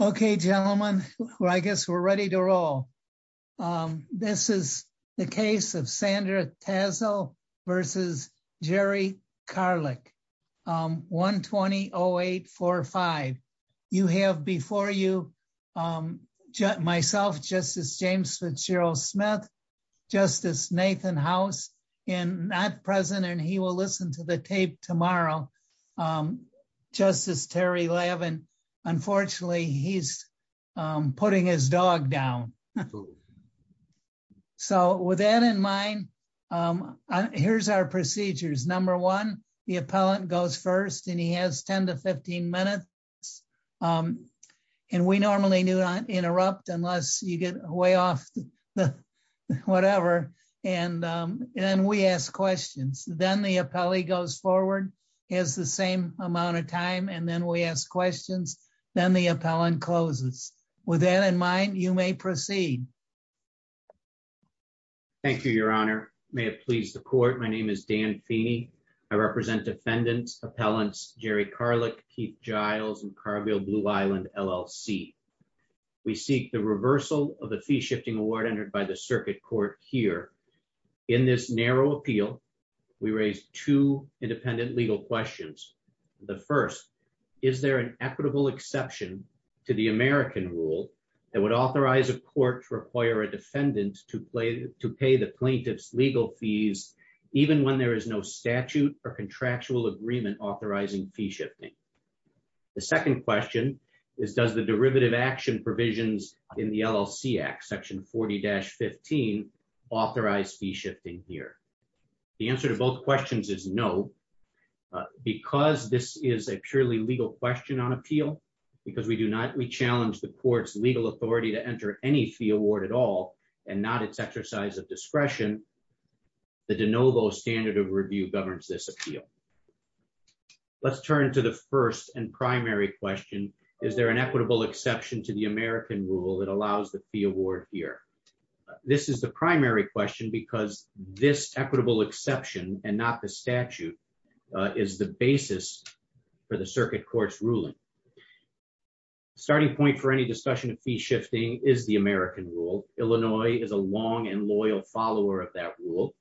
Okay, gentlemen, I guess we're ready to roll. This is the case of Sandra Tassel versus Jerry Karlik. 120-0845. You have before you myself, Justice James Fitzgerald Smith, Justice Nathan House, and not present and he will listen to the tape tomorrow. So, Justice Terry Levin, unfortunately, he's putting his dog down. So with that in mind, here's our procedures. Number one, the appellant goes first and he has 10 to 15 minutes. And we normally do not interrupt unless you get way off. Whatever. And then we ask questions. Then the appellee goes forward, has the same amount of time and then we ask questions. Then the appellant closes. With that in mind, you may proceed. Thank you, Your Honor. May it please the court. My name is Dan Feeney. I represent defendants, appellants, Jerry Karlik, Keith Giles, and Carville Blue Island LLC. We seek the reversal of the fee shifting award entered by the court last year. In this narrow appeal, we raise two independent legal questions. The first, is there an equitable exception to the American rule that would authorize a court to require a defendant to pay the plaintiff's legal fees, even when there is no statute or contractual agreement authorizing fee shifting? The second question is, does the derivative action provisions in the LLC Act, section 40-15, authorize fee shifting here? The answer to both questions is no. Because this is a purely legal question on appeal, because we do not re-challenge the court's legal authority to enter any fee award at all, and not its exercise of discretion, the de novo standard of review governs this appeal. Let's turn to the first and primary question. Is there an equitable exception to the American rule that allows the fee award here? This is the primary question because this equitable exception and not the statute is the basis for the circuit court's ruling. Starting point for any discussion of fee shifting is the American rule. Illinois is a long and loyal follower of that rule.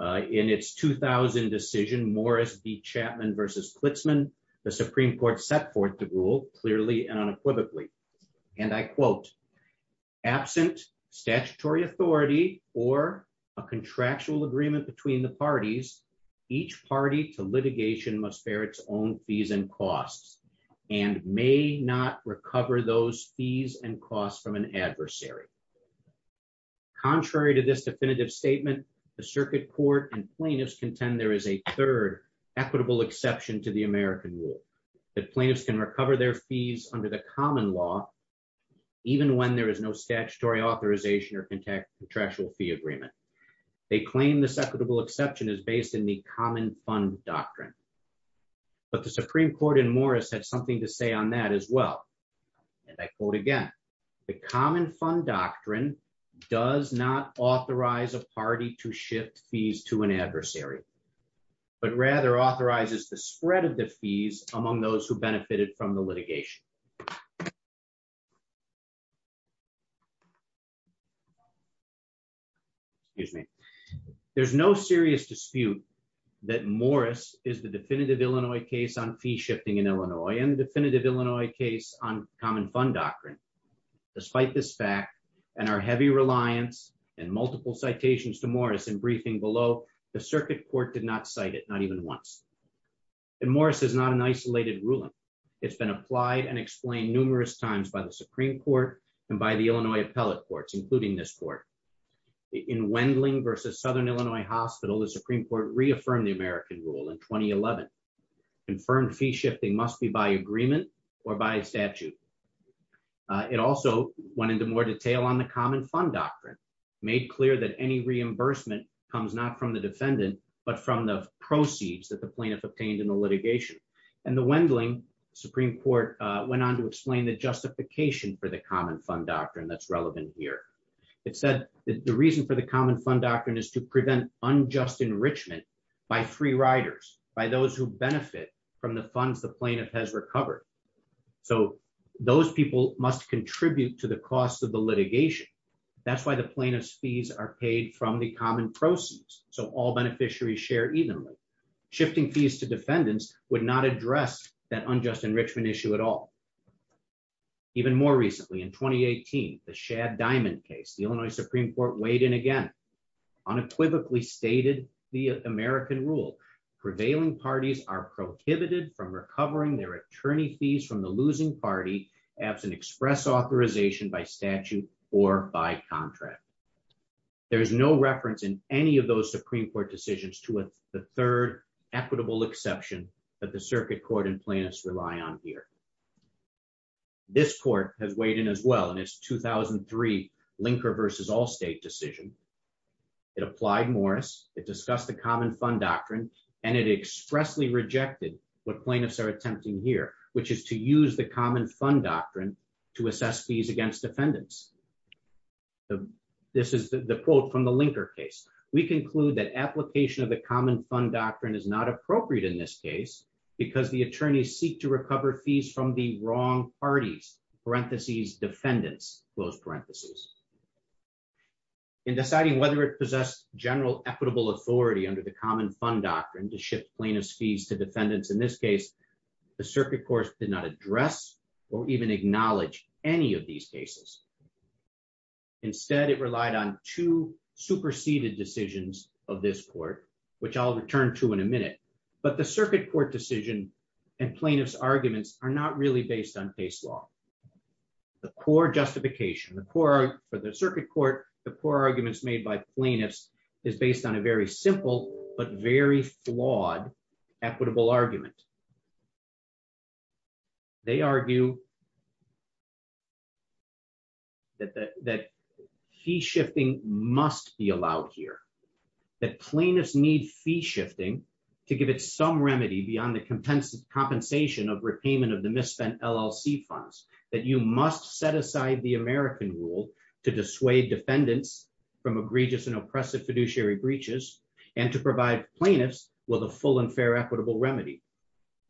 In its 2000 decision, Morris v. Chapman v. Klitzman, the Supreme Court set forth the rule clearly and unequivocally. And I quote, absent statutory authority or a contractual agreement between the parties, each party to litigation must bear its own fees and costs, and may not recover those fees and costs from an adversary. Contrary to this definitive statement, the circuit court and plaintiffs contend there is a third equitable exception to the American rule, that plaintiffs can recover their fees under the common law, even when there is no statutory authorization or contractual fee agreement. They claim this equitable exception is based in the common fund doctrine. But the Supreme Court in Morris had something to say on that as well. And I quote again, the common fund doctrine does not authorize a party to shift fees to an adversary, but rather authorizes the spread of the fees among those who benefited from the litigation. Excuse me. There's no serious dispute that Morris is the definitive Illinois case on fee shifting in Illinois and definitive Illinois case on common fund doctrine. Despite this fact, and our heavy reliance and multiple citations to Morris in briefing below, the Supreme Court has not ruled that fee shifting must be done once. And Morris is not an isolated ruling. It's been applied and explained numerous times by the Supreme Court and by the Illinois appellate courts, including this court. In Wendling versus Southern Illinois Hospital, the Supreme Court reaffirmed the American rule in 2011. Confirmed fee shifting must be by agreement or by statute. It also went into more detail on the common fund doctrine, made clear that any fees that the plaintiff obtained in the litigation, and the Wendling Supreme Court went on to explain the justification for the common fund doctrine that's relevant here. It said the reason for the common fund doctrine is to prevent unjust enrichment by free riders, by those who benefit from the funds the plaintiff has recovered. So those people must contribute to the cost of the litigation. That's why the plaintiff's fees are paid from the common proceeds. So all beneficiaries share evenly. Shifting fees to defendants would not address that unjust enrichment issue at all. Even more recently in 2018, the Shad Diamond case, the Illinois Supreme Court weighed in again, unequivocally stated the American rule, prevailing parties are prohibited from recovering their attorney fees from the losing party absent express authorization by statute or by contract. There is no reference in any of those Supreme Court decisions to the third equitable exception that the circuit court and plaintiffs rely on here. This court has weighed in as well in its 2003 linker versus all state decision. It applied Morris, it discussed the common fund doctrine, and it expressly rejected what plaintiffs are attempting here, which is to use the common fund doctrine to assess fees against defendants. This is the quote from the application of the common fund doctrine is not appropriate in this case, because the attorneys seek to recover fees from the wrong parties, parentheses defendants, close parentheses, in deciding whether it possessed general equitable authority under the common fund doctrine to shift plaintiffs fees to defendants. In this case, the circuit court did not address or even acknowledge any of these cases. Instead, it relied on two preceded decisions of this court, which I'll return to in a minute. But the circuit court decision, and plaintiffs arguments are not really based on case law. The core justification the core for the circuit court, the core arguments made by plaintiffs is based on a very simple but very flawed, equitable argument. They argue that that that he shifting must be allowed here, that plaintiffs need fee shifting, to give it some remedy beyond the compensation of repayment of the misspent LLC funds that you must set aside the American rule to dissuade defendants from egregious and oppressive fiduciary breaches, and to provide plaintiffs with a full and fair equitable remedy.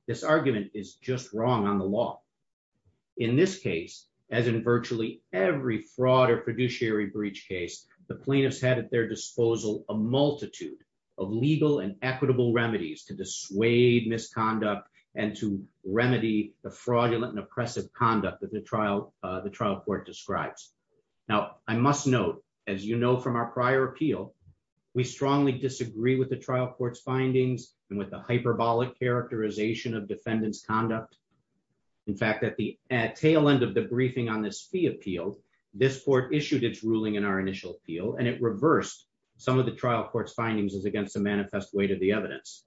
This argument is just wrong on the law. In this case, as in virtually every fraud or misconduct case, the plaintiffs had at their disposal, a multitude of legal and equitable remedies to dissuade misconduct and to remedy the fraudulent and oppressive conduct that the trial, the trial court describes. Now, I must note, as you know, from our prior appeal, we strongly disagree with the trial courts findings and with the hyperbolic characterization of defendants conduct. In fact, at the tail end of the briefing on this fee appeal, this court issued its ruling in our initial appeal, and it reversed some of the trial court's findings as against the manifest weight of the evidence.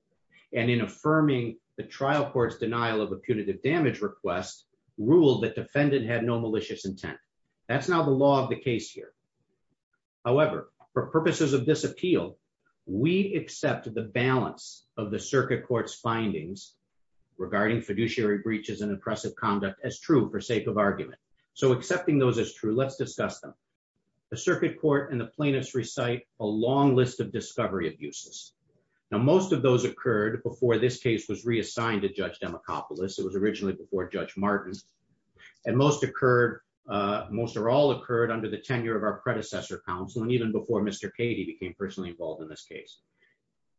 And in affirming the trial court's denial of a punitive damage request rule that defendant had no malicious intent. That's now the law of the case here. However, for purposes of this appeal, we accept the balance of the circuit court's findings regarding fiduciary breaches and oppressive conduct as true for so accepting those as true, let's discuss them. The circuit court and the plaintiffs recite a long list of discovery abuses. Now, most of those occurred before this case was reassigned to Judge Demacopoulos. It was originally before Judge Martin's and most occurred, most or all occurred under the tenure of our predecessor counsel. And even before Mr. Katie became personally involved in this case.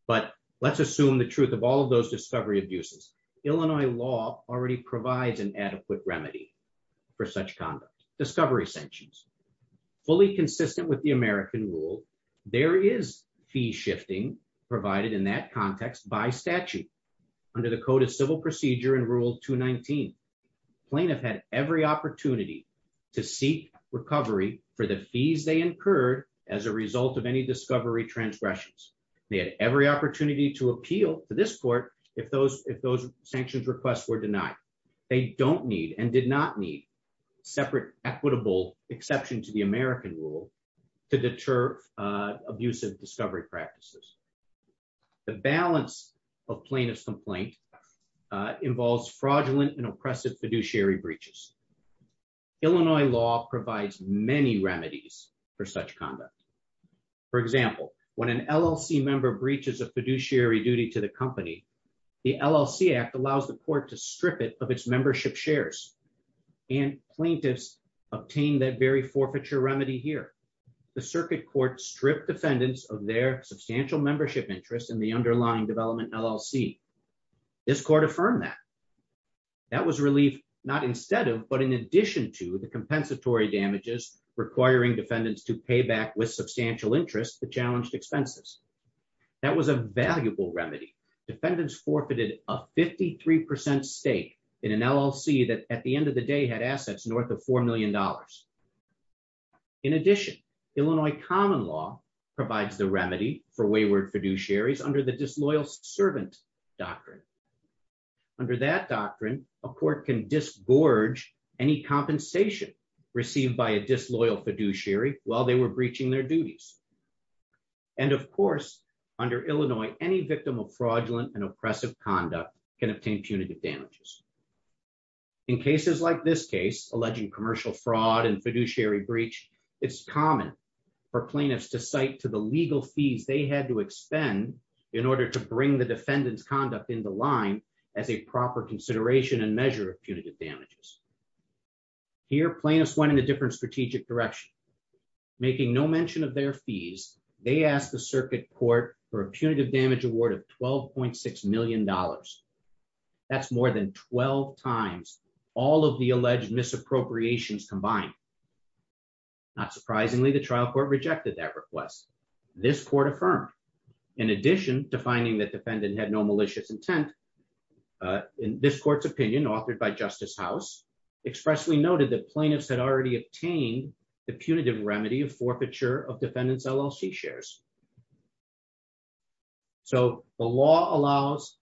But let's assume the truth of all of those discovery abuses. Illinois law already provides an adequate remedy for such conduct, discovery sanctions, fully consistent with the American rule, there is fee shifting provided in that context by statute. Under the Code of Civil Procedure and Rule 219, plaintiff had every opportunity to seek recovery for the fees they incurred as a result of any discovery transgressions. They had every opportunity to appeal to this court if those if those sanctions requests were denied, they don't need and did not need separate equitable exception to the American rule to deter abusive discovery practices. The balance of plaintiff's complaint involves fraudulent and oppressive fiduciary breaches. Illinois law provides many remedies for such conduct. For example, when an LLC member breaches a fiduciary duty to the court to strip it of its membership shares, and plaintiffs obtain that very forfeiture remedy here, the circuit court stripped defendants of their substantial membership interest in the underlying development LLC. This court affirmed that that was relief, not instead of but in addition to the compensatory damages requiring defendants to pay back with substantial interest the challenged expenses. That was a valuable remedy. Defendants forfeited a 53% stake in an LLC that at the end of the day had assets north of $4 million. In addition, Illinois common law provides the remedy for wayward fiduciaries under the disloyal servant doctrine. Under that doctrine, a court can dis gorge any compensation received by a disloyal fiduciary while they were breaching their duties. And of course, under Illinois, any victim of fraudulent and oppressive conduct can obtain punitive damages. In cases like this case, alleging commercial fraud and fiduciary breach, it's common for plaintiffs to cite to the legal fees they had to expend in order to bring the defendant's conduct in the line as a proper consideration and measure of punitive damages. Here plaintiffs went in a different strategic direction. Making no mention of their fees, they asked the circuit court for a punitive damage award of $12.6 million. That's more than 12 times all of the alleged misappropriations combined. Not surprisingly, the trial court rejected that request. This court affirmed. In addition to finding that defendant had no malicious intent. In this court's opinion authored by Justice House expressly noted that plaintiffs had already obtained the punitive remedy of defendant's LLC shares. So the law allows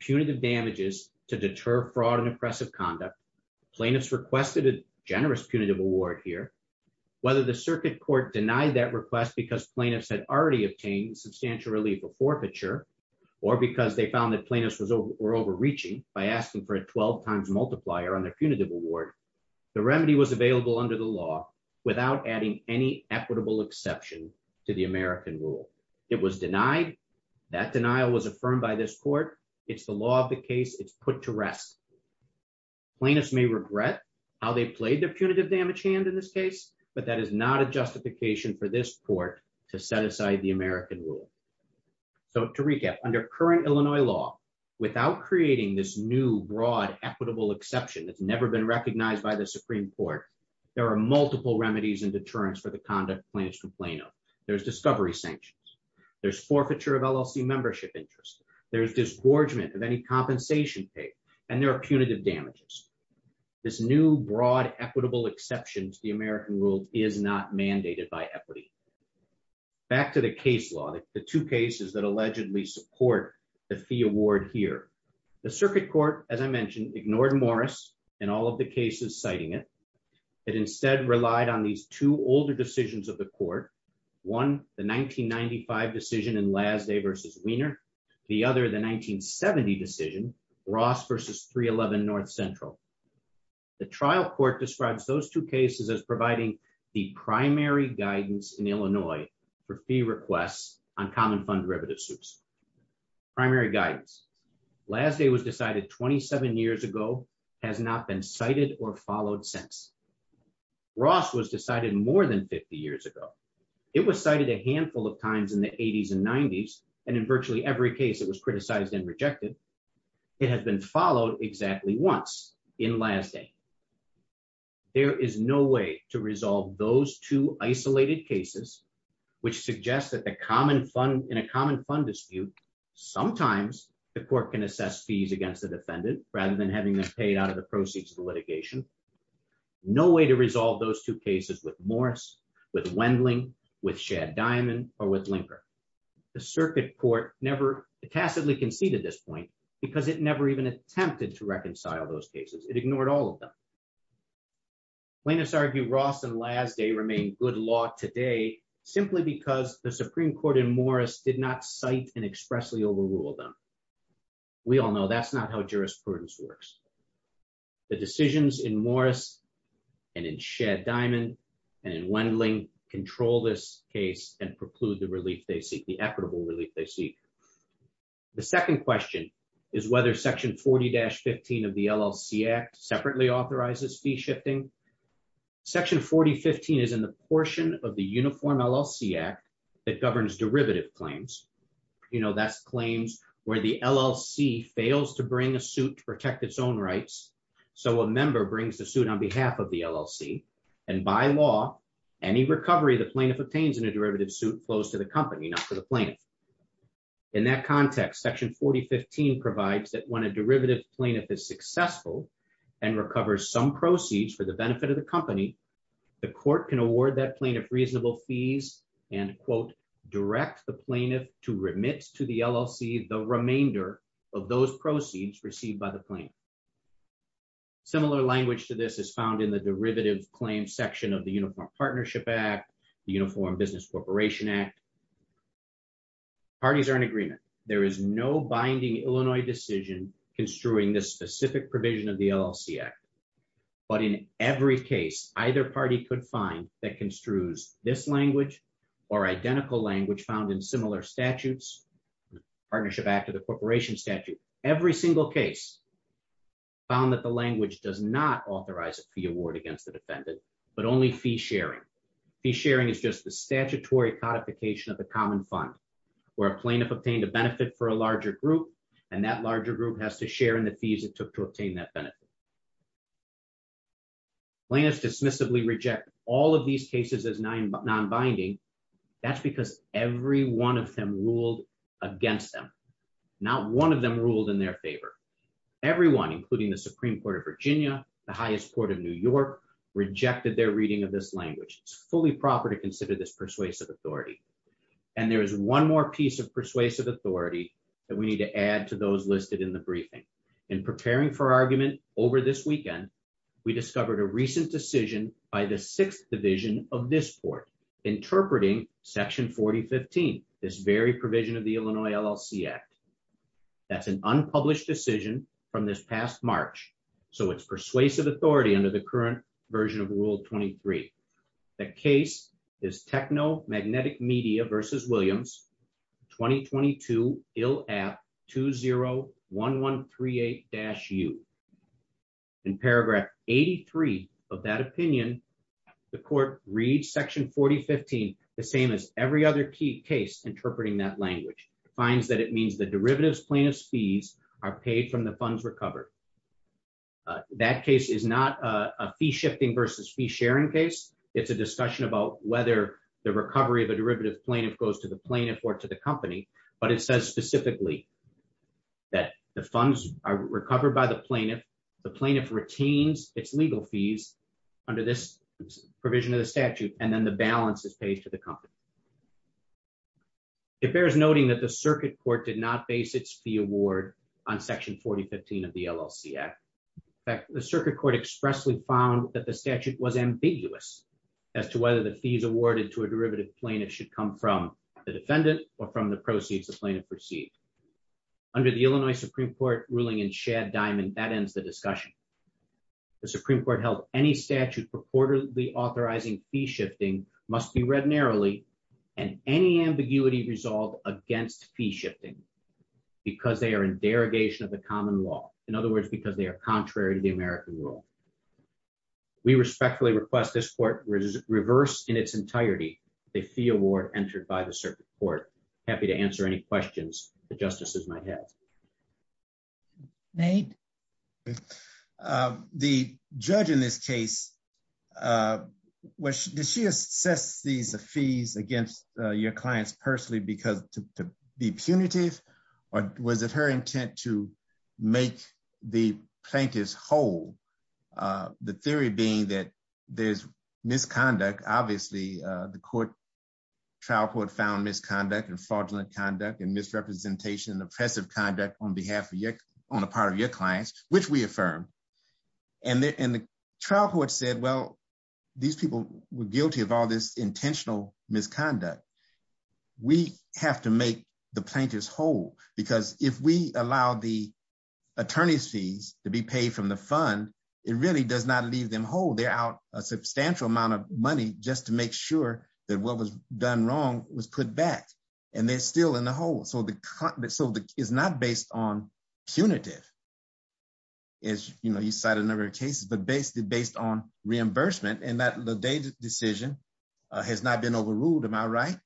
punitive damages to deter fraud and oppressive conduct. Plaintiffs requested a generous punitive award here. Whether the circuit court denied that request because plaintiffs had already obtained substantial relief of forfeiture, or because they found that plaintiffs were overreaching by asking for a 12 times multiplier on their punitive award, the remedy was equitable exception to the American rule. It was denied. That denial was affirmed by this court. It's the law of the case it's put to rest. plaintiffs may regret how they played their punitive damage hand in this case, but that is not a justification for this court to set aside the American rule. So to recap, under current Illinois law, without creating this new broad equitable exception that's never been recognized by the Supreme Court, there are multiple remedies and deterrents for the conduct plaintiffs complain of. There's discovery sanctions, there's forfeiture of LLC membership interest, there's disgorgement of any compensation paid, and there are punitive damages. This new broad equitable exceptions the American rule is not mandated by equity. Back to the case law, the two cases that allegedly support the fee award here. The circuit court, as I mentioned, ignored Morris and all of the cases citing it. It instead relied on these two older decisions of the court. One, the 1995 decision in last day versus Wiener. The other the 1970 decision, Ross versus 311 North Central. The trial court describes those two cases as providing the primary guidance in Illinois for fee requests on common fund derivative suits. Primary guidance. Last day was decided 27 years ago, has not been cited or followed since. Ross was decided more than 50 years ago. It was cited a handful of times in the 80s and 90s. And in virtually every case that was criticized and rejected. It has been followed exactly once in last day. There is no way to resolve those two isolated cases, which suggests that the common fund in a common fund dispute, sometimes the court can assess fees against the defendant rather than having them paid out of the proceeds of the litigation. No way to resolve those two cases with Morris, with Wendling, with Shad Diamond, or with Linker. The circuit court never tacitly conceded this point, because it never even attempted to reconcile those cases, it ignored all of them. Plaintiffs argue Ross and last day remain good law today, simply because the Supreme Court in Morris did not cite and expressly overrule them. We all know that's not how jurisprudence works. The decisions in Morris, and in Shad Diamond, and in Wendling control this case and preclude the relief they seek the equitable relief they seek. The second question is whether section 40-15 of the LLC Act separately authorizes fee shifting. Section 4015 is in the portion of the derivative claims. You know, that's claims where the LLC fails to bring a suit to protect its own rights. So a member brings the suit on behalf of the LLC. And by law, any recovery the plaintiff obtains in a derivative suit flows to the company, not to the plaintiff. In that context, section 4015 provides that when a derivative plaintiff is successful, and recovers some proceeds for the benefit of the company, the court can award that plaintiff reasonable fees, and quote, direct the plaintiff to remit to the LLC the remainder of those proceeds received by the plaintiff. Similar language to this is found in the derivative claims section of the Uniform Partnership Act, the Uniform Business Corporation Act. Parties are in agreement, there is no binding Illinois decision construing this specific provision of the LLC Act. But in every case, either party could find that construes this principle language found in similar statutes, Partnership Act of the Corporation statute, every single case found that the language does not authorize a fee award against the defendant, but only fee sharing. fee sharing is just the statutory codification of the common fund, where a plaintiff obtained a benefit for a larger group, and that larger group has to share in the fees it took to obtain that benefit. plaintiffs dismissively reject all of these cases as non-binding. That's because every one of them ruled against them. Not one of them ruled in their favor. Everyone, including the Supreme Court of Virginia, the highest court of New York, rejected their reading of this language, it's fully proper to consider this persuasive authority. And there is one more piece of persuasive authority that we need to add to those listed in the briefing. In preparing for argument over this weekend, we discovered a recent decision by the sixth division of this board, interpreting section 4015. This very provision of the Illinois LLC Act. That's an unpublished decision from this past March. So it's persuasive authority under the current version of Rule 23. The case is techno magnetic media versus Williams 2022 ill app 201138 dash you in paragraph 83 of that opinion, the court read section 4015 the same as every other key case interpreting that language finds that it means the derivatives plaintiffs fees are paid from the funds recovered. That case is not a fee shifting versus fee sharing case. It's a discussion about whether the recovery of a derivative plaintiff goes to the plaintiff or to the company. But it says specifically that the funds are recovered by the plaintiff, the plaintiff retains its legal fees under this provision of the statute, and then the balance is paid to the company. It bears noting that the circuit court did not base its fee award on section 4015 of the LLC Act. The circuit court expressly found that the statute was ambiguous as to whether the fees awarded to a defendant or from the proceeds the plaintiff received. Under the Illinois Supreme Court ruling in Shad Diamond, that ends the discussion. The Supreme Court held any statute purportedly authorizing fee shifting must be read narrowly, and any ambiguity resolved against fee shifting, because they are in derogation of the common law, in other words, because they are contrary to the American rule. We respectfully request this court reverse in its entirety, the fee award entered by the circuit court. Happy to answer any questions that justices might have. Nate. The judge in this case, which does she assess these fees against your clients personally because to be punitive? Or was it her intent to make the plaintiffs whole? The theory being that there's misconduct, obviously, the court trial court found misconduct and fraudulent conduct and misrepresentation oppressive conduct on behalf of your on the part of your clients, which we affirm. And the trial court said, well, these people were guilty of all this intentional misconduct. We have to make the plaintiffs whole, because if we allow the attorneys fees to be paid from the fund, it really does not leave them whole, they're out a substantial amount of money just to make sure that what was done wrong was put back. And they're still in the hole. So the so the is not based on punitive. As you know, you cite a number of cases, but basically based on reimbursement and that the data decision has not been overruled. Am I right?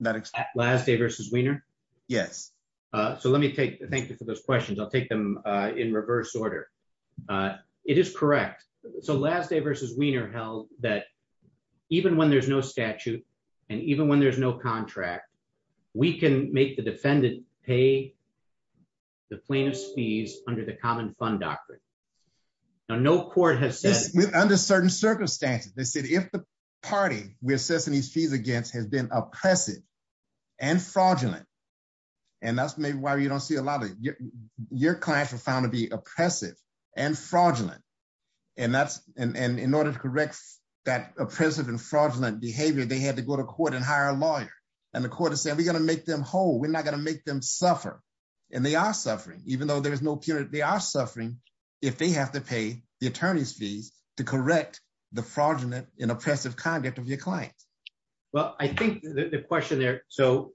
That last day versus wiener? Yes. So let me take thank you for those questions. I'll take them in reverse order. It is correct. So last day versus wiener held that even when there's no statute, and even when there's no contract, we can make the defendant pay the plaintiff's fees under the common fund doctrine. Now, no court has said under certain circumstances, they said if the party we assess any fees against has been oppressive, and fraudulent. And that's maybe why you don't see a lot of your clients were found to be oppressive and fraudulent. And that's and in order to correct that oppressive and fraudulent behavior, they had to go to court and hire a lawyer. And the court is saying we got to make them whole, we're not going to make them suffer. And they are suffering, even though there's no punitive, they are suffering, if they have to pay the attorney's fees to correct the fraudulent and oppressive conduct of your client. Well, I think the question there. So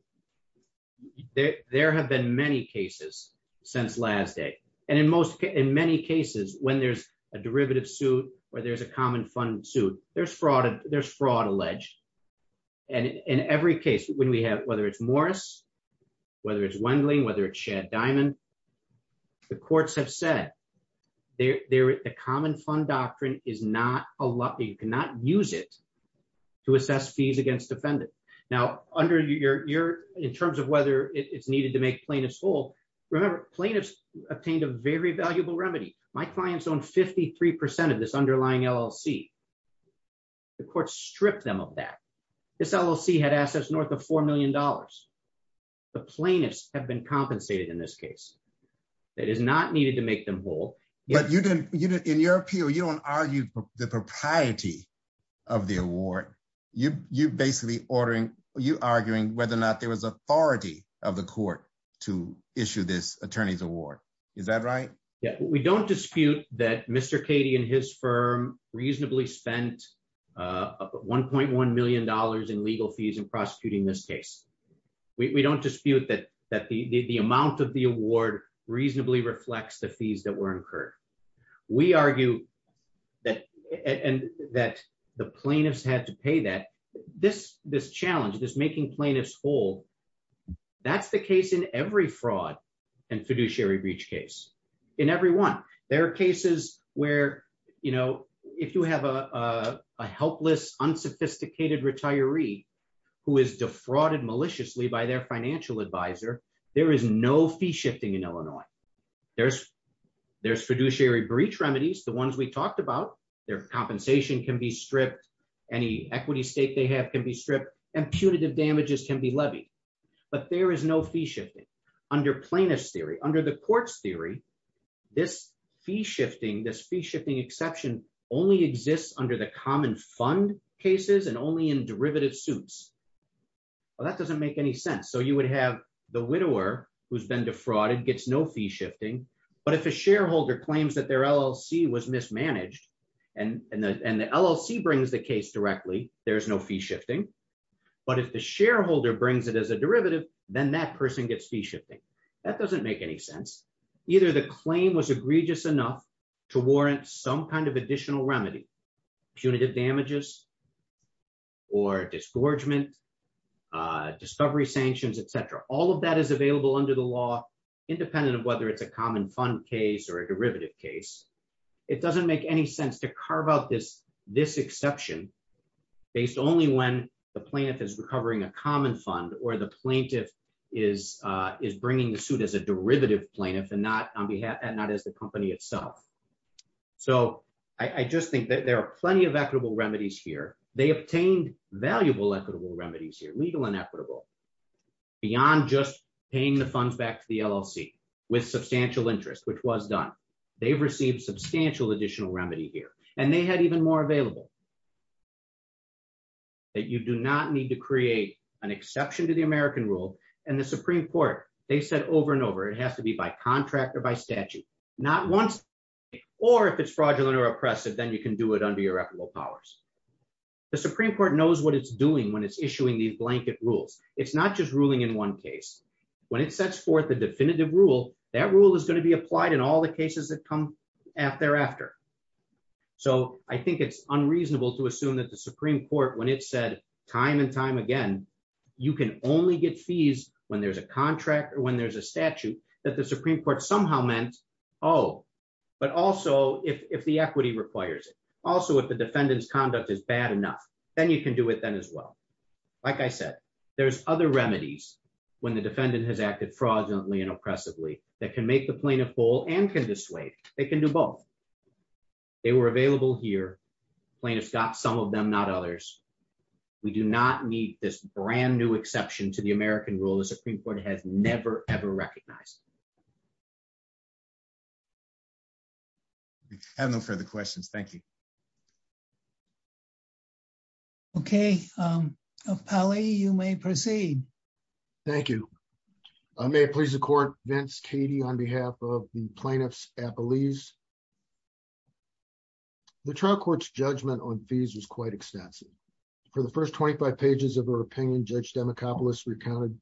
there have been many cases since last day. And in most, in many cases, when there's a derivative suit, or there's a common fund suit, there's fraud, there's fraud alleged. And in every case, when we have whether it's Morris, whether it's Wendling, whether it's Shad Diamond, the courts have said, there, the common fund doctrine is not a lot, you cannot use it to assess fees against defendant. Now, under your in terms of whether it's Remember, plaintiffs obtained a very valuable remedy, my clients own 53% of this underlying LLC. The court stripped them of that. This LLC had assets north of $4 million. The plaintiffs have been compensated in this case, that is not needed to make them whole. But you didn't, you didn't in your appeal, you don't argue the propriety of the award, you you basically ordering you arguing whether or not there was authority of the court to issue this attorney's award. Is that right? Yeah, we don't dispute that Mr. Katie and his firm reasonably spent $1.1 million in legal fees in prosecuting this case. We don't dispute that, that the amount of the award reasonably reflects the fees that were incurred. We argue that, and that the plaintiffs had to pay that this this challenge, this and fiduciary breach case. In every one, there are cases where, you know, if you have a helpless, unsophisticated retiree, who is defrauded maliciously by their financial advisor, there is no fee shifting in Illinois. There's, there's fiduciary breach remedies, the ones we talked about, their compensation can be stripped, any equity state they have can be stripped, and punitive damages can be levied. But there is no fee shifting. Under plaintiffs theory under the courts theory, this fee shifting, this fee shifting exception only exists under the common fund cases and only in derivative suits. Well, that doesn't make any sense. So you would have the widower who's been defrauded gets no fee shifting. But if a shareholder claims that their LLC was mismanaged, and the LLC brings the case directly, there's no fee shifting. But if the shareholder brings it as a derivative, then that person gets fee shifting. That doesn't make any sense. Either the claim was egregious enough to warrant some kind of additional remedy, punitive damages, or disgorgement, discovery sanctions, etc. All of that is available under the law, independent of whether it's a common fund case or a derivative case. It doesn't make any sense to carve out this, this exception, based only when the plaintiff is recovering a common fund or the plaintiff is, is bringing the suit as a derivative plaintiff and not on behalf and not as the company itself. So I just think that there are plenty of equitable remedies here, they obtained valuable equitable remedies here, legal and equitable, beyond just paying the funds back to the LLC, with substantial interest, which was done, they've received substantial additional remedy here, and they had even more available. That you do not need to create an exception to the American rule. And the Supreme Court, they said over and over, it has to be by contract or by statute, not once. Or if it's fraudulent or oppressive, then you can do it under your equitable powers. The Supreme Court knows what it's doing when it's issuing these blanket rules. It's not just ruling in one case, when it sets forth the definitive rule, that rule is come out thereafter. So I think it's unreasonable to assume that the Supreme Court when it said time and time again, you can only get fees when there's a contract or when there's a statute that the Supreme Court somehow meant, oh, but also if the equity requires it. Also, if the defendant's conduct is bad enough, then you can do it then as well. Like I said, there's other remedies, when the defendant has acted fraudulently and oppressively, that can make the plaintiff whole and can dissuade. They can do both. They were available here. Plaintiff's got some of them, not others. We do not need this brand new exception to the American rule, the Supreme Court has never ever recognized. I have no further questions. Thank you. Okay. Pauly, you may proceed. Thank you. May it please the court, Vince, Katie, on behalf of the plaintiff's appellees. The trial court's judgment on fees was quite extensive. For the first 25 pages of our opinion, Judge Demacopoulos recounted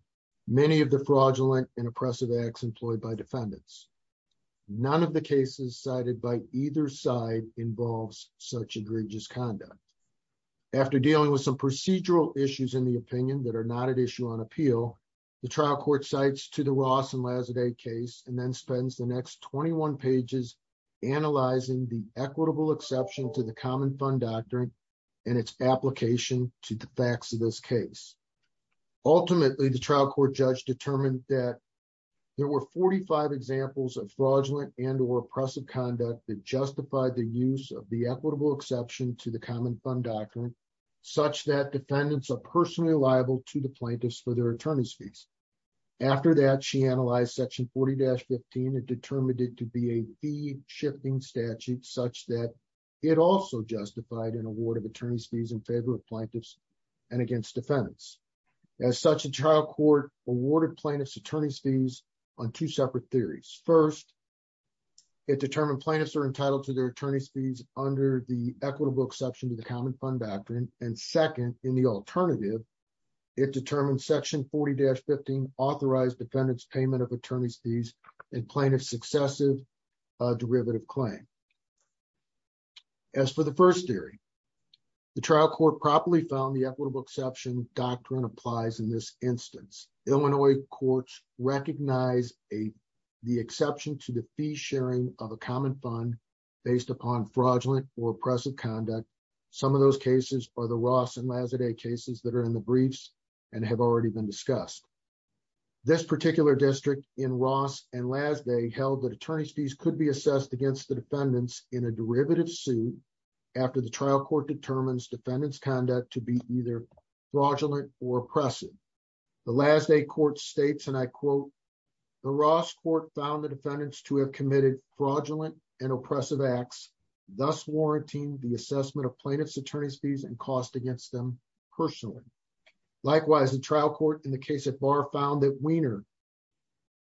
many of the fraudulent and oppressive acts employed by defendants. None of the cases cited by either side involves such egregious conduct. After dealing with some procedural issues in the opinion that are not at issue on appeal, the trial court cites to the Ross and Lazzard case and then spends the next 21 pages analyzing the equitable exception to the common fund doctrine and its application to the facts of this case. Ultimately, the trial court judge determined that there were 45 examples of fraudulent and or oppressive conduct that justified the use of the equitable exception to the common fund doctrine, such that defendants are personally liable to the plaintiffs for their attorney's fees. After that, she analyzed section 40-15 and determined it to be a fee shifting statute such that it also justified an award of attorney's fees in favor of plaintiffs and against defendants. As such, the trial court awarded plaintiffs attorney's fees on two separate theories. First, it determined plaintiffs are entitled to their attorney's fees under the equitable exception to the common fund doctrine. And second, in the alternative, it determined section 40-15 authorized defendants payment of attorney's fees in plaintiff's successive derivative claim. As for the first theory, the trial court properly found the equitable exception doctrine applies in this instance. Illinois courts recognize the exception to the fee sharing of a common fund based upon fraudulent or oppressive conduct. Some of those cases are the Ross and Lazzard cases that are in the briefs and have already been discussed. This particular district in Ross and last day held that attorney's fees could be assessed against the defendants in a derivative suit. After the trial court determines defendants conduct to be either fraudulent or oppressive. The last day court states and I quote, the Ross court found the defendants to have committed fraudulent and oppressive acts, thus warranting the assessment of plaintiffs attorney's fees and cost against them personally. Likewise, the trial court in the case at bar found that Wiener,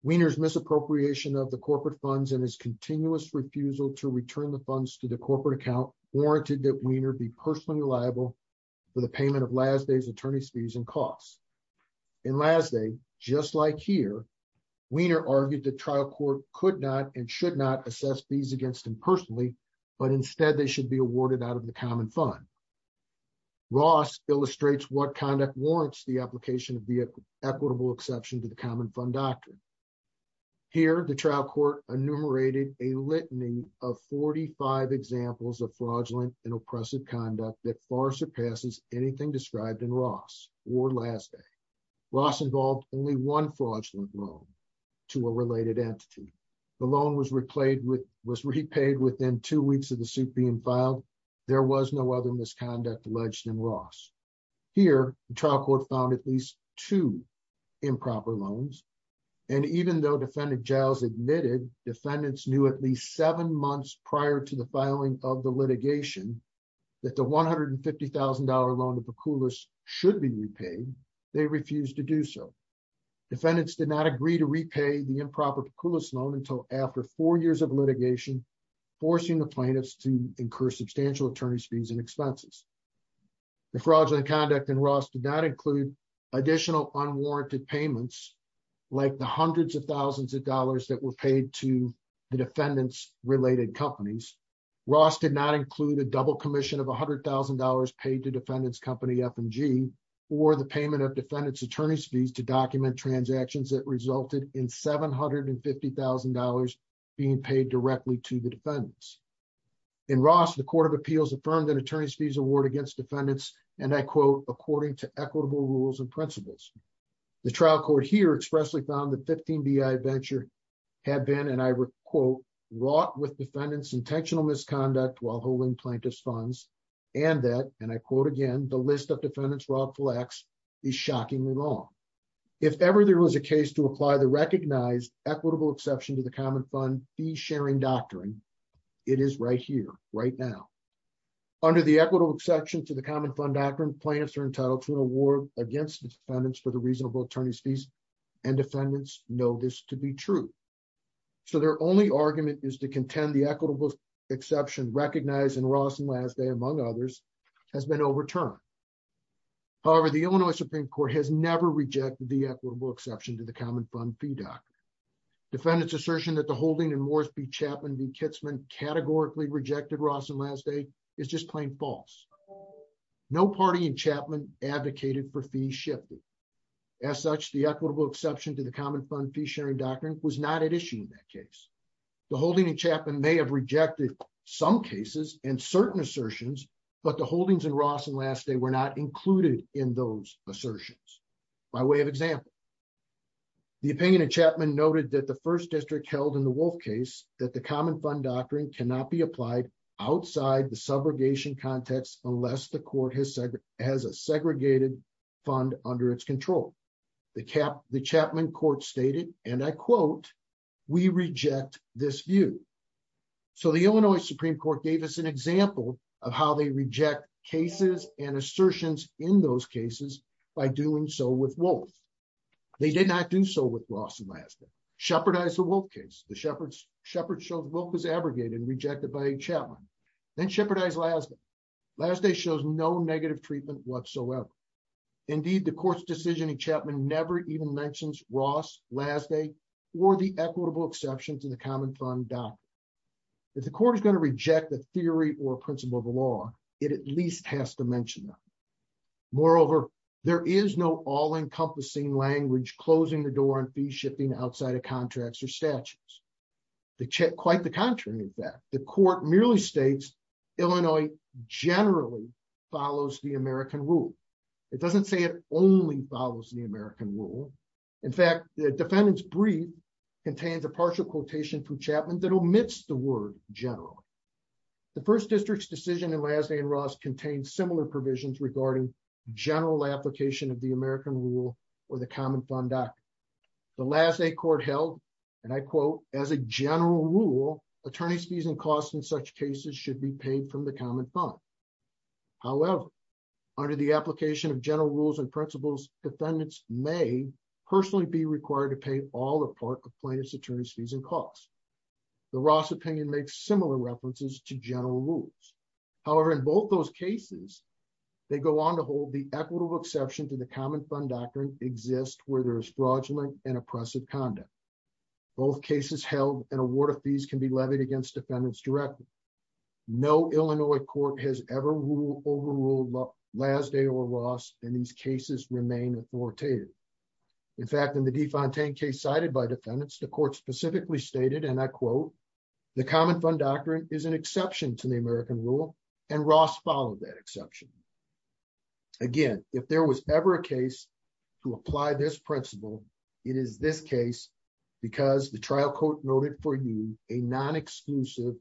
Wiener's misappropriation of the corporate funds and his continuous refusal to return the funds to the corporate account warranted that Wiener be personally liable for the payment of last day's attorney's fees and costs. And last day, just like here, Wiener argued the trial court could not and should not assess fees against him personally, but instead they should be awarded out of the common fund. Ross illustrates what conduct warrants the application of vehicle equitable exception to the common fund doctrine. Here the trial court enumerated a litany of 45 examples of fraudulent and oppressive conduct that far surpasses anything described in Ross or last day. Ross involved only one fraudulent loan to a related entity. The loan was repaid with was repaid within two weeks of the suit being filed. There was no other misconduct alleged in Ross. Here, the trial court found at least two improper loans. And even though defendant gels admitted defendants knew at least seven months prior to the filing of the litigation, that the $150,000 loan to the coolest should be repaid. They refuse to do so. defendants did not agree to repay the improper coolest loan until after four years of litigation, forcing the plaintiffs to incur substantial attorneys fees and expenses. The fraudulent conduct and Ross did not include additional unwarranted payments, like the hundreds of thousands of dollars that were paid to the defendants related companies. Ross did not include a double commission of $100,000 paid to defendants company FMG, or the payment of defendants attorneys fees to document transactions that resulted in $750,000 being paid directly to the defendants. In court of appeals affirmed that attorneys fees award against defendants, and I quote, according to equitable rules and principles. The trial court here expressly found the 15 bi venture had been and I quote, wrought with defendants intentional misconduct while holding plaintiffs funds. And that and I quote, again, the list of defendants rob flex is shockingly long. If ever there was a case to apply the recognized equitable exception to the common fund be sharing doctrine, it is right here right now. Under the equitable exception to the common fund doctrine plaintiffs are entitled to an award against defendants for the reasonable attorneys fees, and defendants know this to be true. So their only argument is to contend the equitable exception recognized in Ross and last day among others has been overturned. However, the Illinois Supreme Court has never rejected the equitable exception to the common fund fee doc. defendants assertion that the holding and Morrisby Chapman the Kitzman categorically rejected Ross and last day is just plain false. No party and Chapman advocated for fee shift. As such, the equitable exception to the common fund fee sharing doctrine was not an issue in that case. The holding and Chapman may have rejected some cases and certain assertions, but the holdings and Ross and last day were not included in those assertions. By way of example, the opinion of Chapman noted that the first district held in the wolf case that the common fund doctrine cannot be applied outside the subrogation context unless the court has said has a segregated fund under its control. The cap the Chapman court stated and I quote, we reject this view. So the Illinois Supreme Court gave us an example of how they reject cases and assertions in those cases. By doing so with wolf. They did not do so with Ross and shepherd eyes the wolf case, the shepherds shepherd shows wolf is abrogated rejected by Chapman, then shepherd eyes last, last day shows no negative treatment whatsoever. Indeed, the court's decision in Chapman never even mentions Ross last day, or the equitable exceptions in the common fund doctrine. If the court is going to reject the theory or principle of the law, it at least has to mention them. Moreover, there is no all shifting outside of contracts or statutes. The check quite the contrary. In fact, the court merely states, Illinois generally follows the American rule. It doesn't say it only follows the American rule. In fact, the defendants breed contains a partial quotation for Chapman that omits the word general. The first district's decision and last name Ross contains similar provisions regarding general application of the American rule or the common fund doc. The last day court held, and I quote, as a general rule, attorney's fees and costs in such cases should be paid from the common fund. However, under the application of general rules and principles, defendants may personally be required to pay all the part of plaintiff's attorney's fees and costs. The Ross opinion makes similar references to general rules. However, in both those cases, they go on to hold the equitable exception to the common fund doctrine exists where there's fraudulent and oppressive conduct. Both cases held an award of fees can be levied against defendants directly. No Illinois court has ever ruled overruled last day or loss in these cases remain authoritative. In fact, in the defund tank case cited by defendants, the court specifically stated and I quote, the common fund doctrine is an exception to the American rule. And Ross followed that exception. Again, if there was ever a case to apply this principle, it is this case, because the trial court noted for you a non exclusive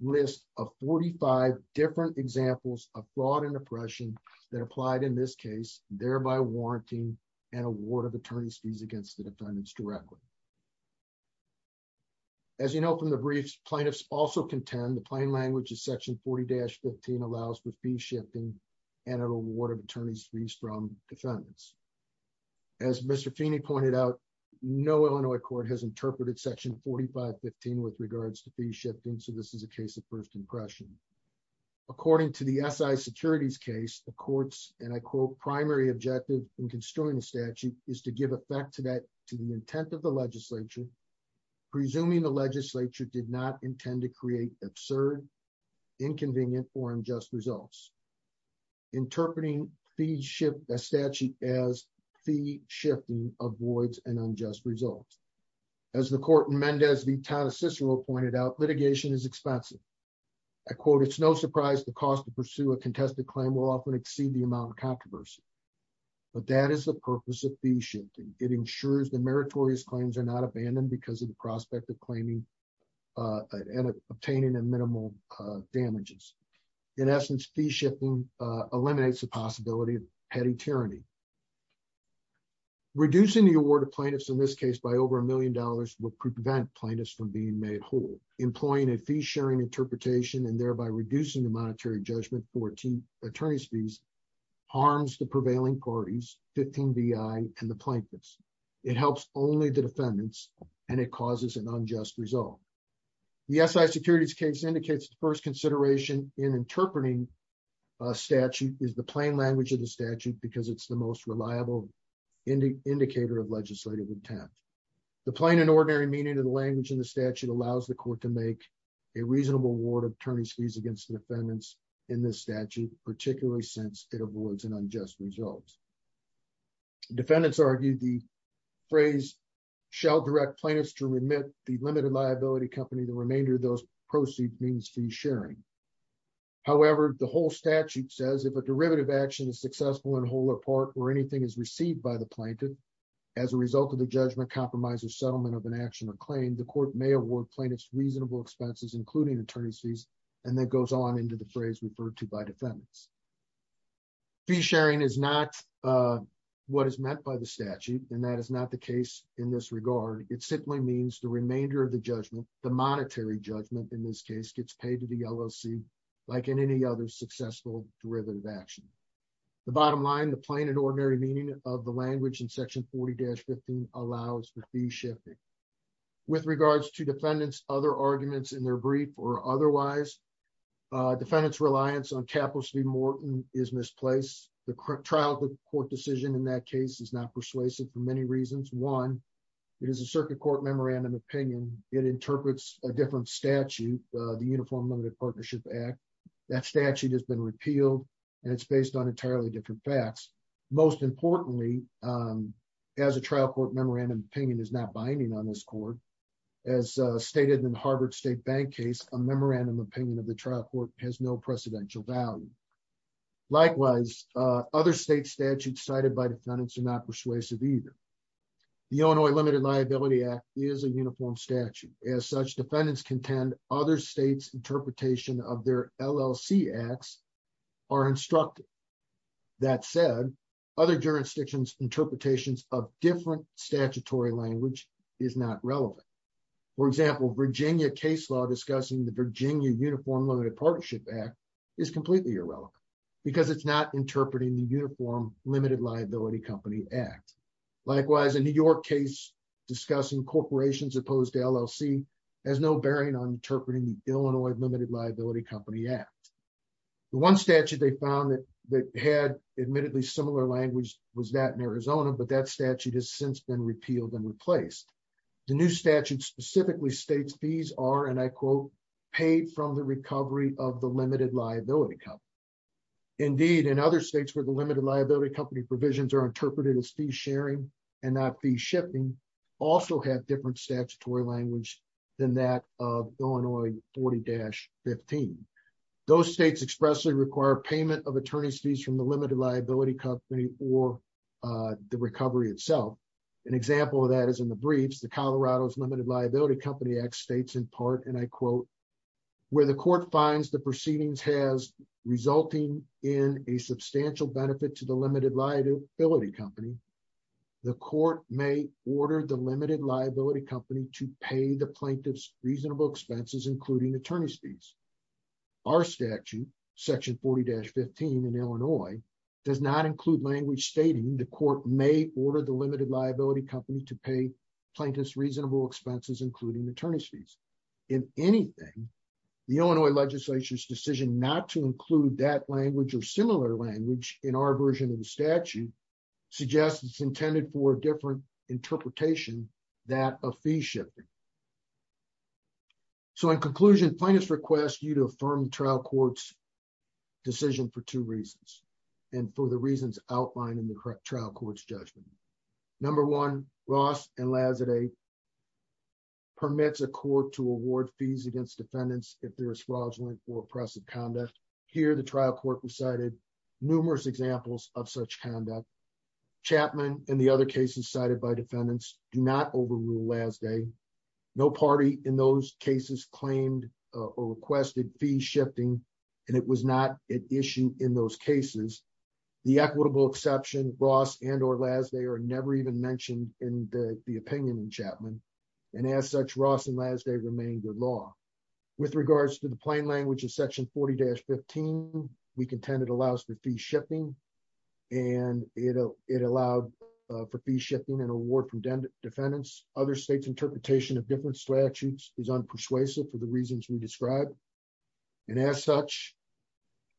list of 45 different examples of fraud and oppression that applied in this case, thereby warranting an award of attorney's fees against the defendants directly. As you know, from the briefs, plaintiffs also contend the plain language is section 40 allows the fee shifting and an award of attorneys fees from defendants. As Mr. Feeney pointed out, no Illinois court has interpreted section 4515 with regards to be shifting. So this is a case of first impression. According to the SI securities case, the courts and I quote, primary objective in construing the statute is to give effect to that to the intent of the legislature, presuming the legislature did not intend to create absurd, inconvenient or unjust results. Interpreting fee shift a statute as fee shifting avoids an unjust result. As the court Mendez V. Taddeus Cicero pointed out litigation is expensive. I quote, it's no surprise the cost to pursue a contested claim will often exceed the amount of controversy. But that is the purpose of the shifting it ensures the meritorious claims are not abandoned because of the obtaining a minimal damages. In essence, fee shifting eliminates the possibility of petty tyranny. Reducing the award of plaintiffs in this case by over a million dollars will prevent plaintiffs from being made whole employing a fee sharing interpretation and thereby reducing the monetary judgment 14 attorneys fees harms the prevailing parties 15 bi and the plaintiffs. It helps only the defendants and it causes an unjust result. The SI securities case indicates the first consideration in interpreting statute is the plain language of the statute because it's the most reliable indicator of legislative intent. The plain and ordinary meaning of the language in the statute allows the court to make a reasonable award attorneys fees against the defendants in this statute, particularly since it avoids an unjust result. defendants argued the phrase shall direct plaintiffs to remit the limited liability company the remainder of those proceeds means fee sharing. However, the whole statute says if a derivative action is successful in whole or part or anything is received by the plaintiff, as a result of the judgment compromise or settlement of an action or claim the court may award plaintiffs reasonable expenses including attorneys fees, and that goes on into the phrase referred to by defendants. fee sharing is not what is meant by the statute. And that is not the case. In this regard, it simply means the remainder of the judgment, the monetary judgment in this case gets paid to the LLC, like in any other successful derivative action. The bottom line, the plain and ordinary meaning of the language in section 40 dash 15 allows for fee shifting. With regards to defendants other arguments in their brief or otherwise, defendants reliance on capital city Morton is misplaced. The trial court decision in that case is not persuasive for many reasons. One is a circuit court memorandum opinion, it interprets a different statute, the Uniform Limited Partnership Act, that statute has been repealed. And it's based on entirely different facts. Most importantly, as a trial court memorandum opinion is not binding on this court. As stated in Harvard State Bank case, a memorandum opinion of the trial court has no precedential value. Likewise, other state statutes cited by defendants are not persuasive either. The Illinois Limited Liability Act is a uniform statute as such defendants contend other states interpretation of their LLC acts are instructed. That said, other jurisdictions interpretations of different statutory language is not relevant. For example, Virginia case law discussing the Virginia Uniform Limited Partnership Act is completely irrelevant, because it's not interpreting the Uniform Limited Liability Company Act. Likewise, in New York case, discussing corporations opposed LLC has no bearing on interpreting the Illinois Limited Liability Company Act. The one statute they found that they had admittedly similar language was that in Arizona, but that statute has since been repealed and replaced. The new statute specifically states these are and I quote, paid from the recovery of the limited liability company. Indeed, in other states where the limited liability company provisions are interpreted as fee sharing, and not the shipping also have different statutory language than that of Illinois 40 dash 15. Those states expressly require payment of attorneys fees from the limited liability company or the recovery itself. An example of that is in the briefs, the Colorado's Limited Liability Company Act states in part and I quote, where the court finds the proceedings has resulting in a substantial benefit to the limited liability company, the court may order the limited liability company to pay the plaintiffs reasonable expenses, including attorney fees. Our statute, section 40 dash 15 in Illinois, does not include language stating the court may order the limited liability company to pay plaintiffs reasonable expenses, including attorney fees. If anything, the Illinois legislature's decision not to include that language or similar language in our version of the statute suggests it's intended for a different interpretation that a fee shipping. So in conclusion, plaintiffs request you to affirm trial courts decision for two reasons, and for the reasons outlined in the correct trial courts judgment. Number one, Ross and Lazard a permits a court to award fees against defendants if there's fraudulent or oppressive conduct. Here the trial court recited numerous examples of such conduct. Chapman and the other cases cited by defendants do not overrule last day. No party in those cases claimed or requested fee shifting. And it was not an issue in those cases. The equitable exception Ross and or last they are never even mentioned in the opinion in Chapman. And as such Ross and last day remain good law. With regards to the plain language of section 40 dash 15. We contended allows the fee shipping and it'll it allowed for fee shipping and award from defendants other states interpretation of different statutes is unpersuasive for the reasons we described. And as such,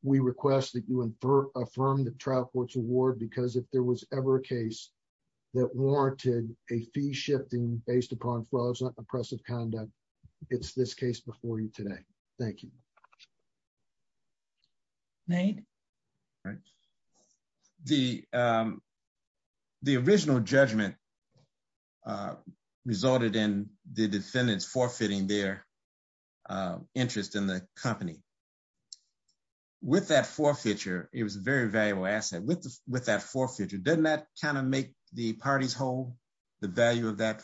we request that you infer affirm the trial courts award because if there was ever a case that warranted a fee shifting based upon fraudulent oppressive conduct, it's this case before you today. Thank you. Nate. The the original judgment resulted in the defendants forfeiting their interest in the company. With that forfeiture, it was a very valuable asset with with that forfeiture, doesn't that kind of make the parties hold the value of that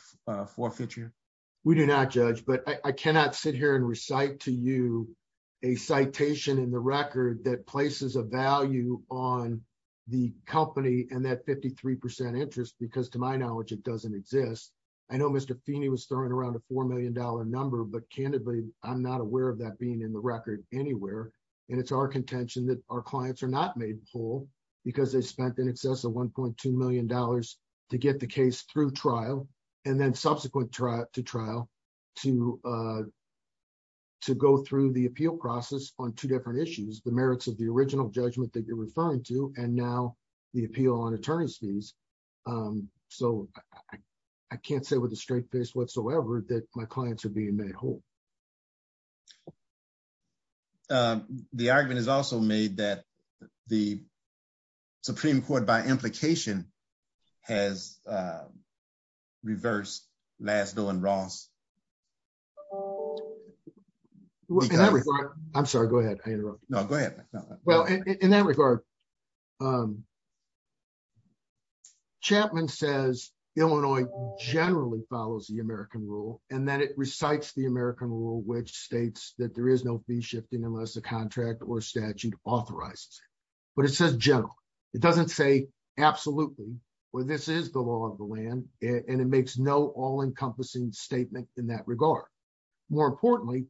we do not judge, but I cannot sit here and recite to you a citation in the record that places a value on the company and that 53% interest because to my knowledge, it doesn't exist. I know Mr. Feeney was throwing around a $4 million number, but candidly, I'm not aware of that being in the record anywhere. And it's our contention that our clients are not made whole because they spent in excess of $1.2 million to get the case through trial and then subsequent to trial to go through the appeal process on two different issues. The merits of the original judgment that you're referring to and now the appeal on attorney's fees. So I can't say with a straight face whatsoever that my clients are being made whole. The argument is also made that the Supreme Court by implication has reversed Laszlo and Ross. I'm sorry, go ahead. I interrupt. No, go ahead. Well, in that regard, Chapman says Illinois generally follows the American rule and that it recites the American rule, which states that there is no fee shifting unless a contract or absolutely. Well, this is the law of the land, and it makes no all encompassing statement in that regard. More importantly,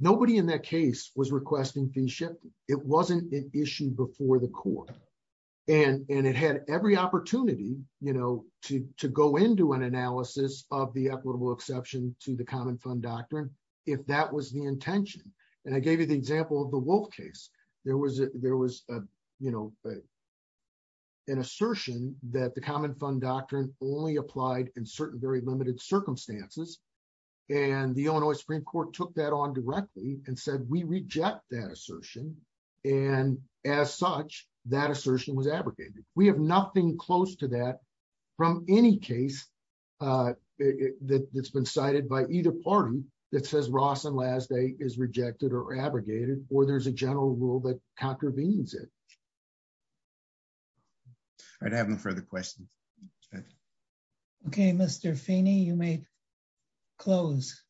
nobody in that case was requesting fee shifting. It wasn't an issue before the court, and it had every opportunity to go into an analysis of the equitable exception to the common fund doctrine if that was the intention. And I gave you the example of the Wolf case. There was an assertion that the common fund doctrine only applied in certain very limited circumstances, and the Illinois Supreme Court took that on directly and said we reject that assertion. And as such, that assertion was abrogated. We have nothing close to that from any case that's been cited by either party that says Ross and Laszlo is rejected or contravenes it. I'd have no further questions. Okay, Mr. Feeney, you may close.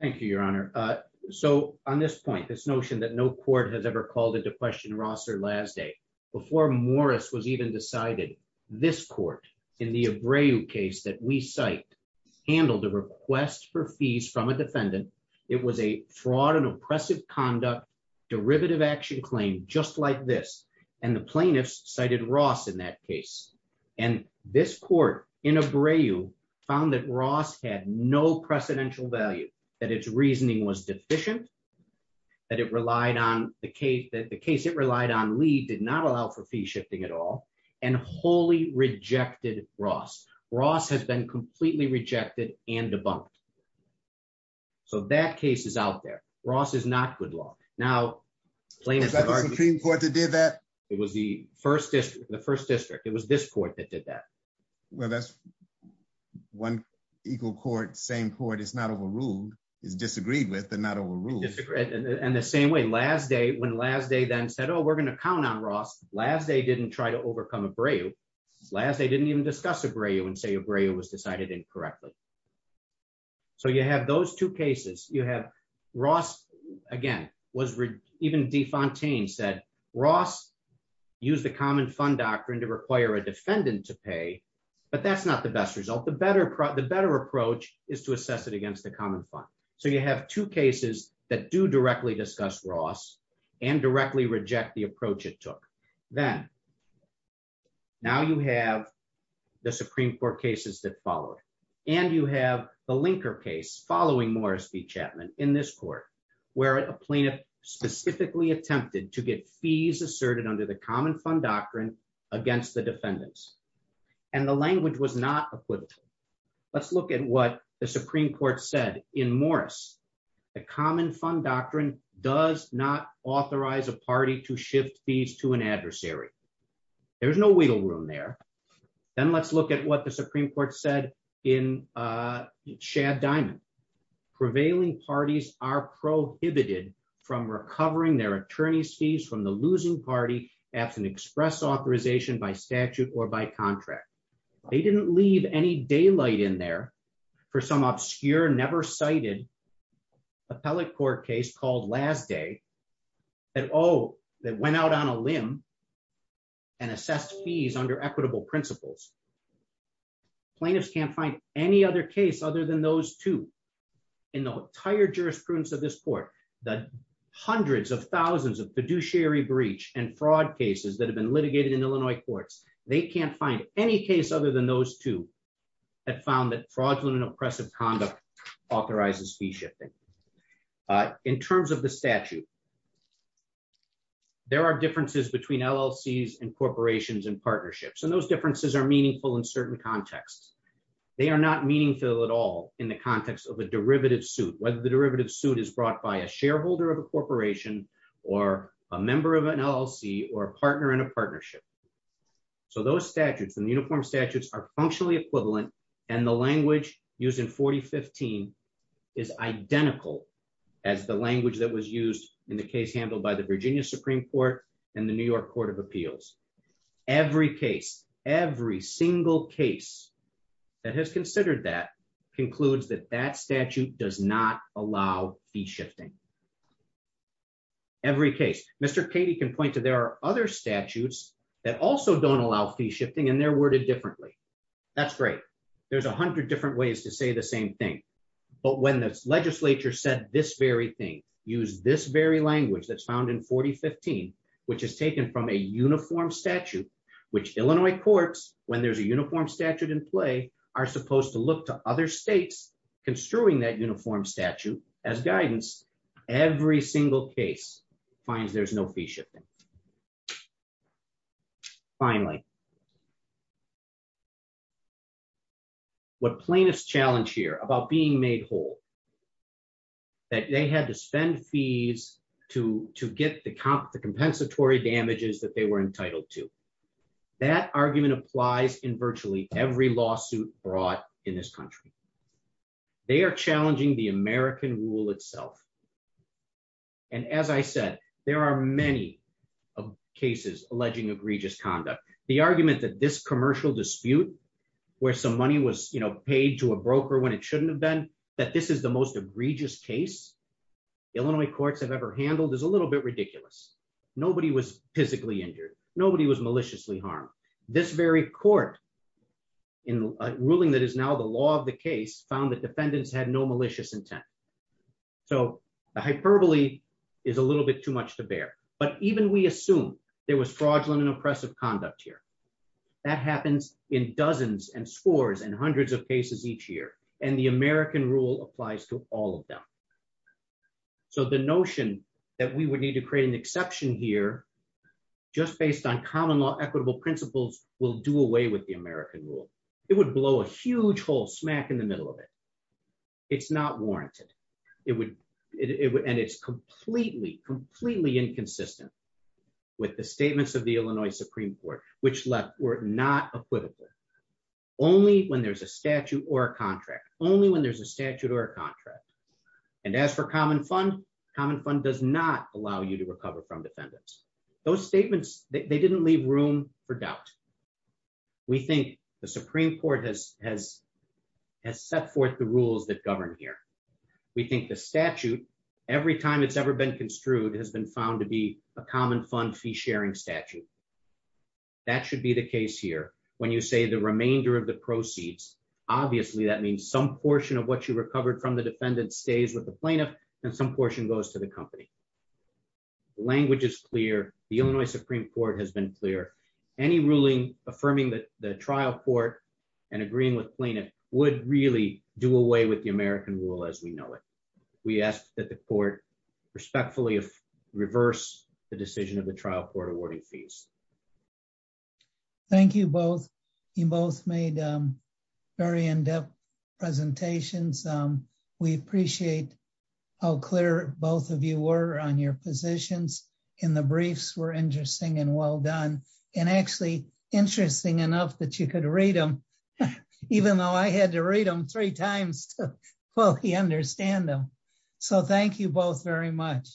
Thank you, Your Honor. So on this point, this notion that no court has ever called into question Ross or Laszlo before Morris was even decided this court in the Abreu case that we cite handled the request for fees from a defendant. It was a fraud and oppressive conduct derivative action claim just like this, and the plaintiffs cited Ross in that case. And this court in Abreu found that Ross had no precedential value, that its reasoning was deficient, that it relied on the case, that the case it relied on Lee did not allow for fee shifting at all, and wholly rejected Ross. Ross has been completely rejected and law. Now, is that the Supreme Court that did that? It was the first district. It was this court that did that. Well, that's one equal court, same court. It's not overruled. It's disagreed with, but not overruled. And the same way, when Laszlo then said, oh, we're going to count on Ross, Laszlo didn't try to overcome Abreu. Laszlo didn't even discuss Abreu and say Abreu was decided incorrectly. So you have two cases that do directly discuss Ross and directly reject the approach it took. Then, now you have the Supreme Court cases that followed, and you have the Linker case following Morris v. Chapman in this court, where a plaintiff specifically attempted to get fees asserted under the Common Fund Doctrine against the defendants. And the language was not equivocal. Let's look at what the Supreme Court said in Morris. The Common Fund Doctrine does not authorize a party to shift fees to an adversary. There's no wiggle room there. Then let's look at what the Supreme Court said in Chad Diamond. Prevailing parties are prohibited from recovering their attorney's fees from the losing party after an express authorization by statute or by contract. They didn't leave any daylight in there for some obscure, never cited appellate court case called Last Day that went out on a limb and assessed fees under equitable principles. Plaintiffs can't any other case other than those two. In the entire jurisprudence of this court, the hundreds of thousands of fiduciary breach and fraud cases that have been litigated in Illinois courts, they can't find any case other than those two that found that fraudulent and oppressive conduct authorizes fee shifting. In terms of the statute, there are differences between LLCs and corporations and partnerships, and those differences are meaningful in not meaningful at all in the context of a derivative suit, whether the derivative suit is brought by a shareholder of a corporation or a member of an LLC or a partner in a partnership. Those statutes and uniform statutes are functionally equivalent, and the language used in 4015 is identical as the language that was used in the case handled by the Virginia Supreme Court and the New York Court of Appeals. Every case, every single case that has considered that concludes that that statute does not allow fee shifting. Every case. Mr. Katie can point to there are other statutes that also don't allow fee shifting, and they're worded differently. That's great. There's 100 different ways to say the same thing, but when the legislature said this very thing, use this very language that's found in 4015, which is a uniform statute, which Illinois courts, when there's a uniform statute in play, are supposed to look to other states construing that uniform statute as guidance. Every single case finds there's no fee shipping. Finally, what plaintiffs challenge here about being made whole, that they had to spend fees to get the compensatory damages that they were entitled to. That argument applies in virtually every lawsuit brought in this country. They are challenging the American rule itself, and as I said, there are many cases alleging egregious conduct. The argument that this commercial dispute where some money was paid to a broker when it shouldn't have been, that this is the most egregious case Illinois courts have ever handled is a little bit ridiculous. Nobody was physically injured. Nobody was maliciously harmed. This very court in a ruling that is now the law of the case found that defendants had no malicious intent. The hyperbole is a little bit too much to bear, but even we assume there was fraudulent and oppressive conduct here. That happens in dozens and scores and hundreds of cases each year, and the American rule applies to all of them. The notion that we would need to create an exception here just based on common law equitable principles will do away with the American rule. It would blow a huge hole smack in the middle of it. It's not warranted, and it's completely completely inconsistent with the statements of the Illinois Supreme Court, which were not equivocal. Only when there's a statute or a contract, only when there's a statute or a contract. And as for common fund, common fund does not allow you to recover from defendants. Those statements, they didn't leave room for doubt. We think the Supreme Court has set forth the rules that govern here. We think the statute, every time it's ever been construed, has been found to be a common fund fee sharing statute. That should be the case here. When you say the remainder of the proceeds, obviously that means some portion of what you recovered from the defendant stays with the plaintiff, and some portion goes to the company. The language is clear. The Illinois Supreme Court has been clear. Any ruling affirming that the trial court and agreeing with plaintiff would really do away with the American rule as we know it. We ask that the court respectfully reverse the decision of the trial court awarding fees. Thank you both. You both made very in-depth presentations. We appreciate how clear both of you were on your positions, and the briefs were interesting and well done. And actually interesting enough that you could read them, even though I had to read them three times to fully understand them. So thank you both very much.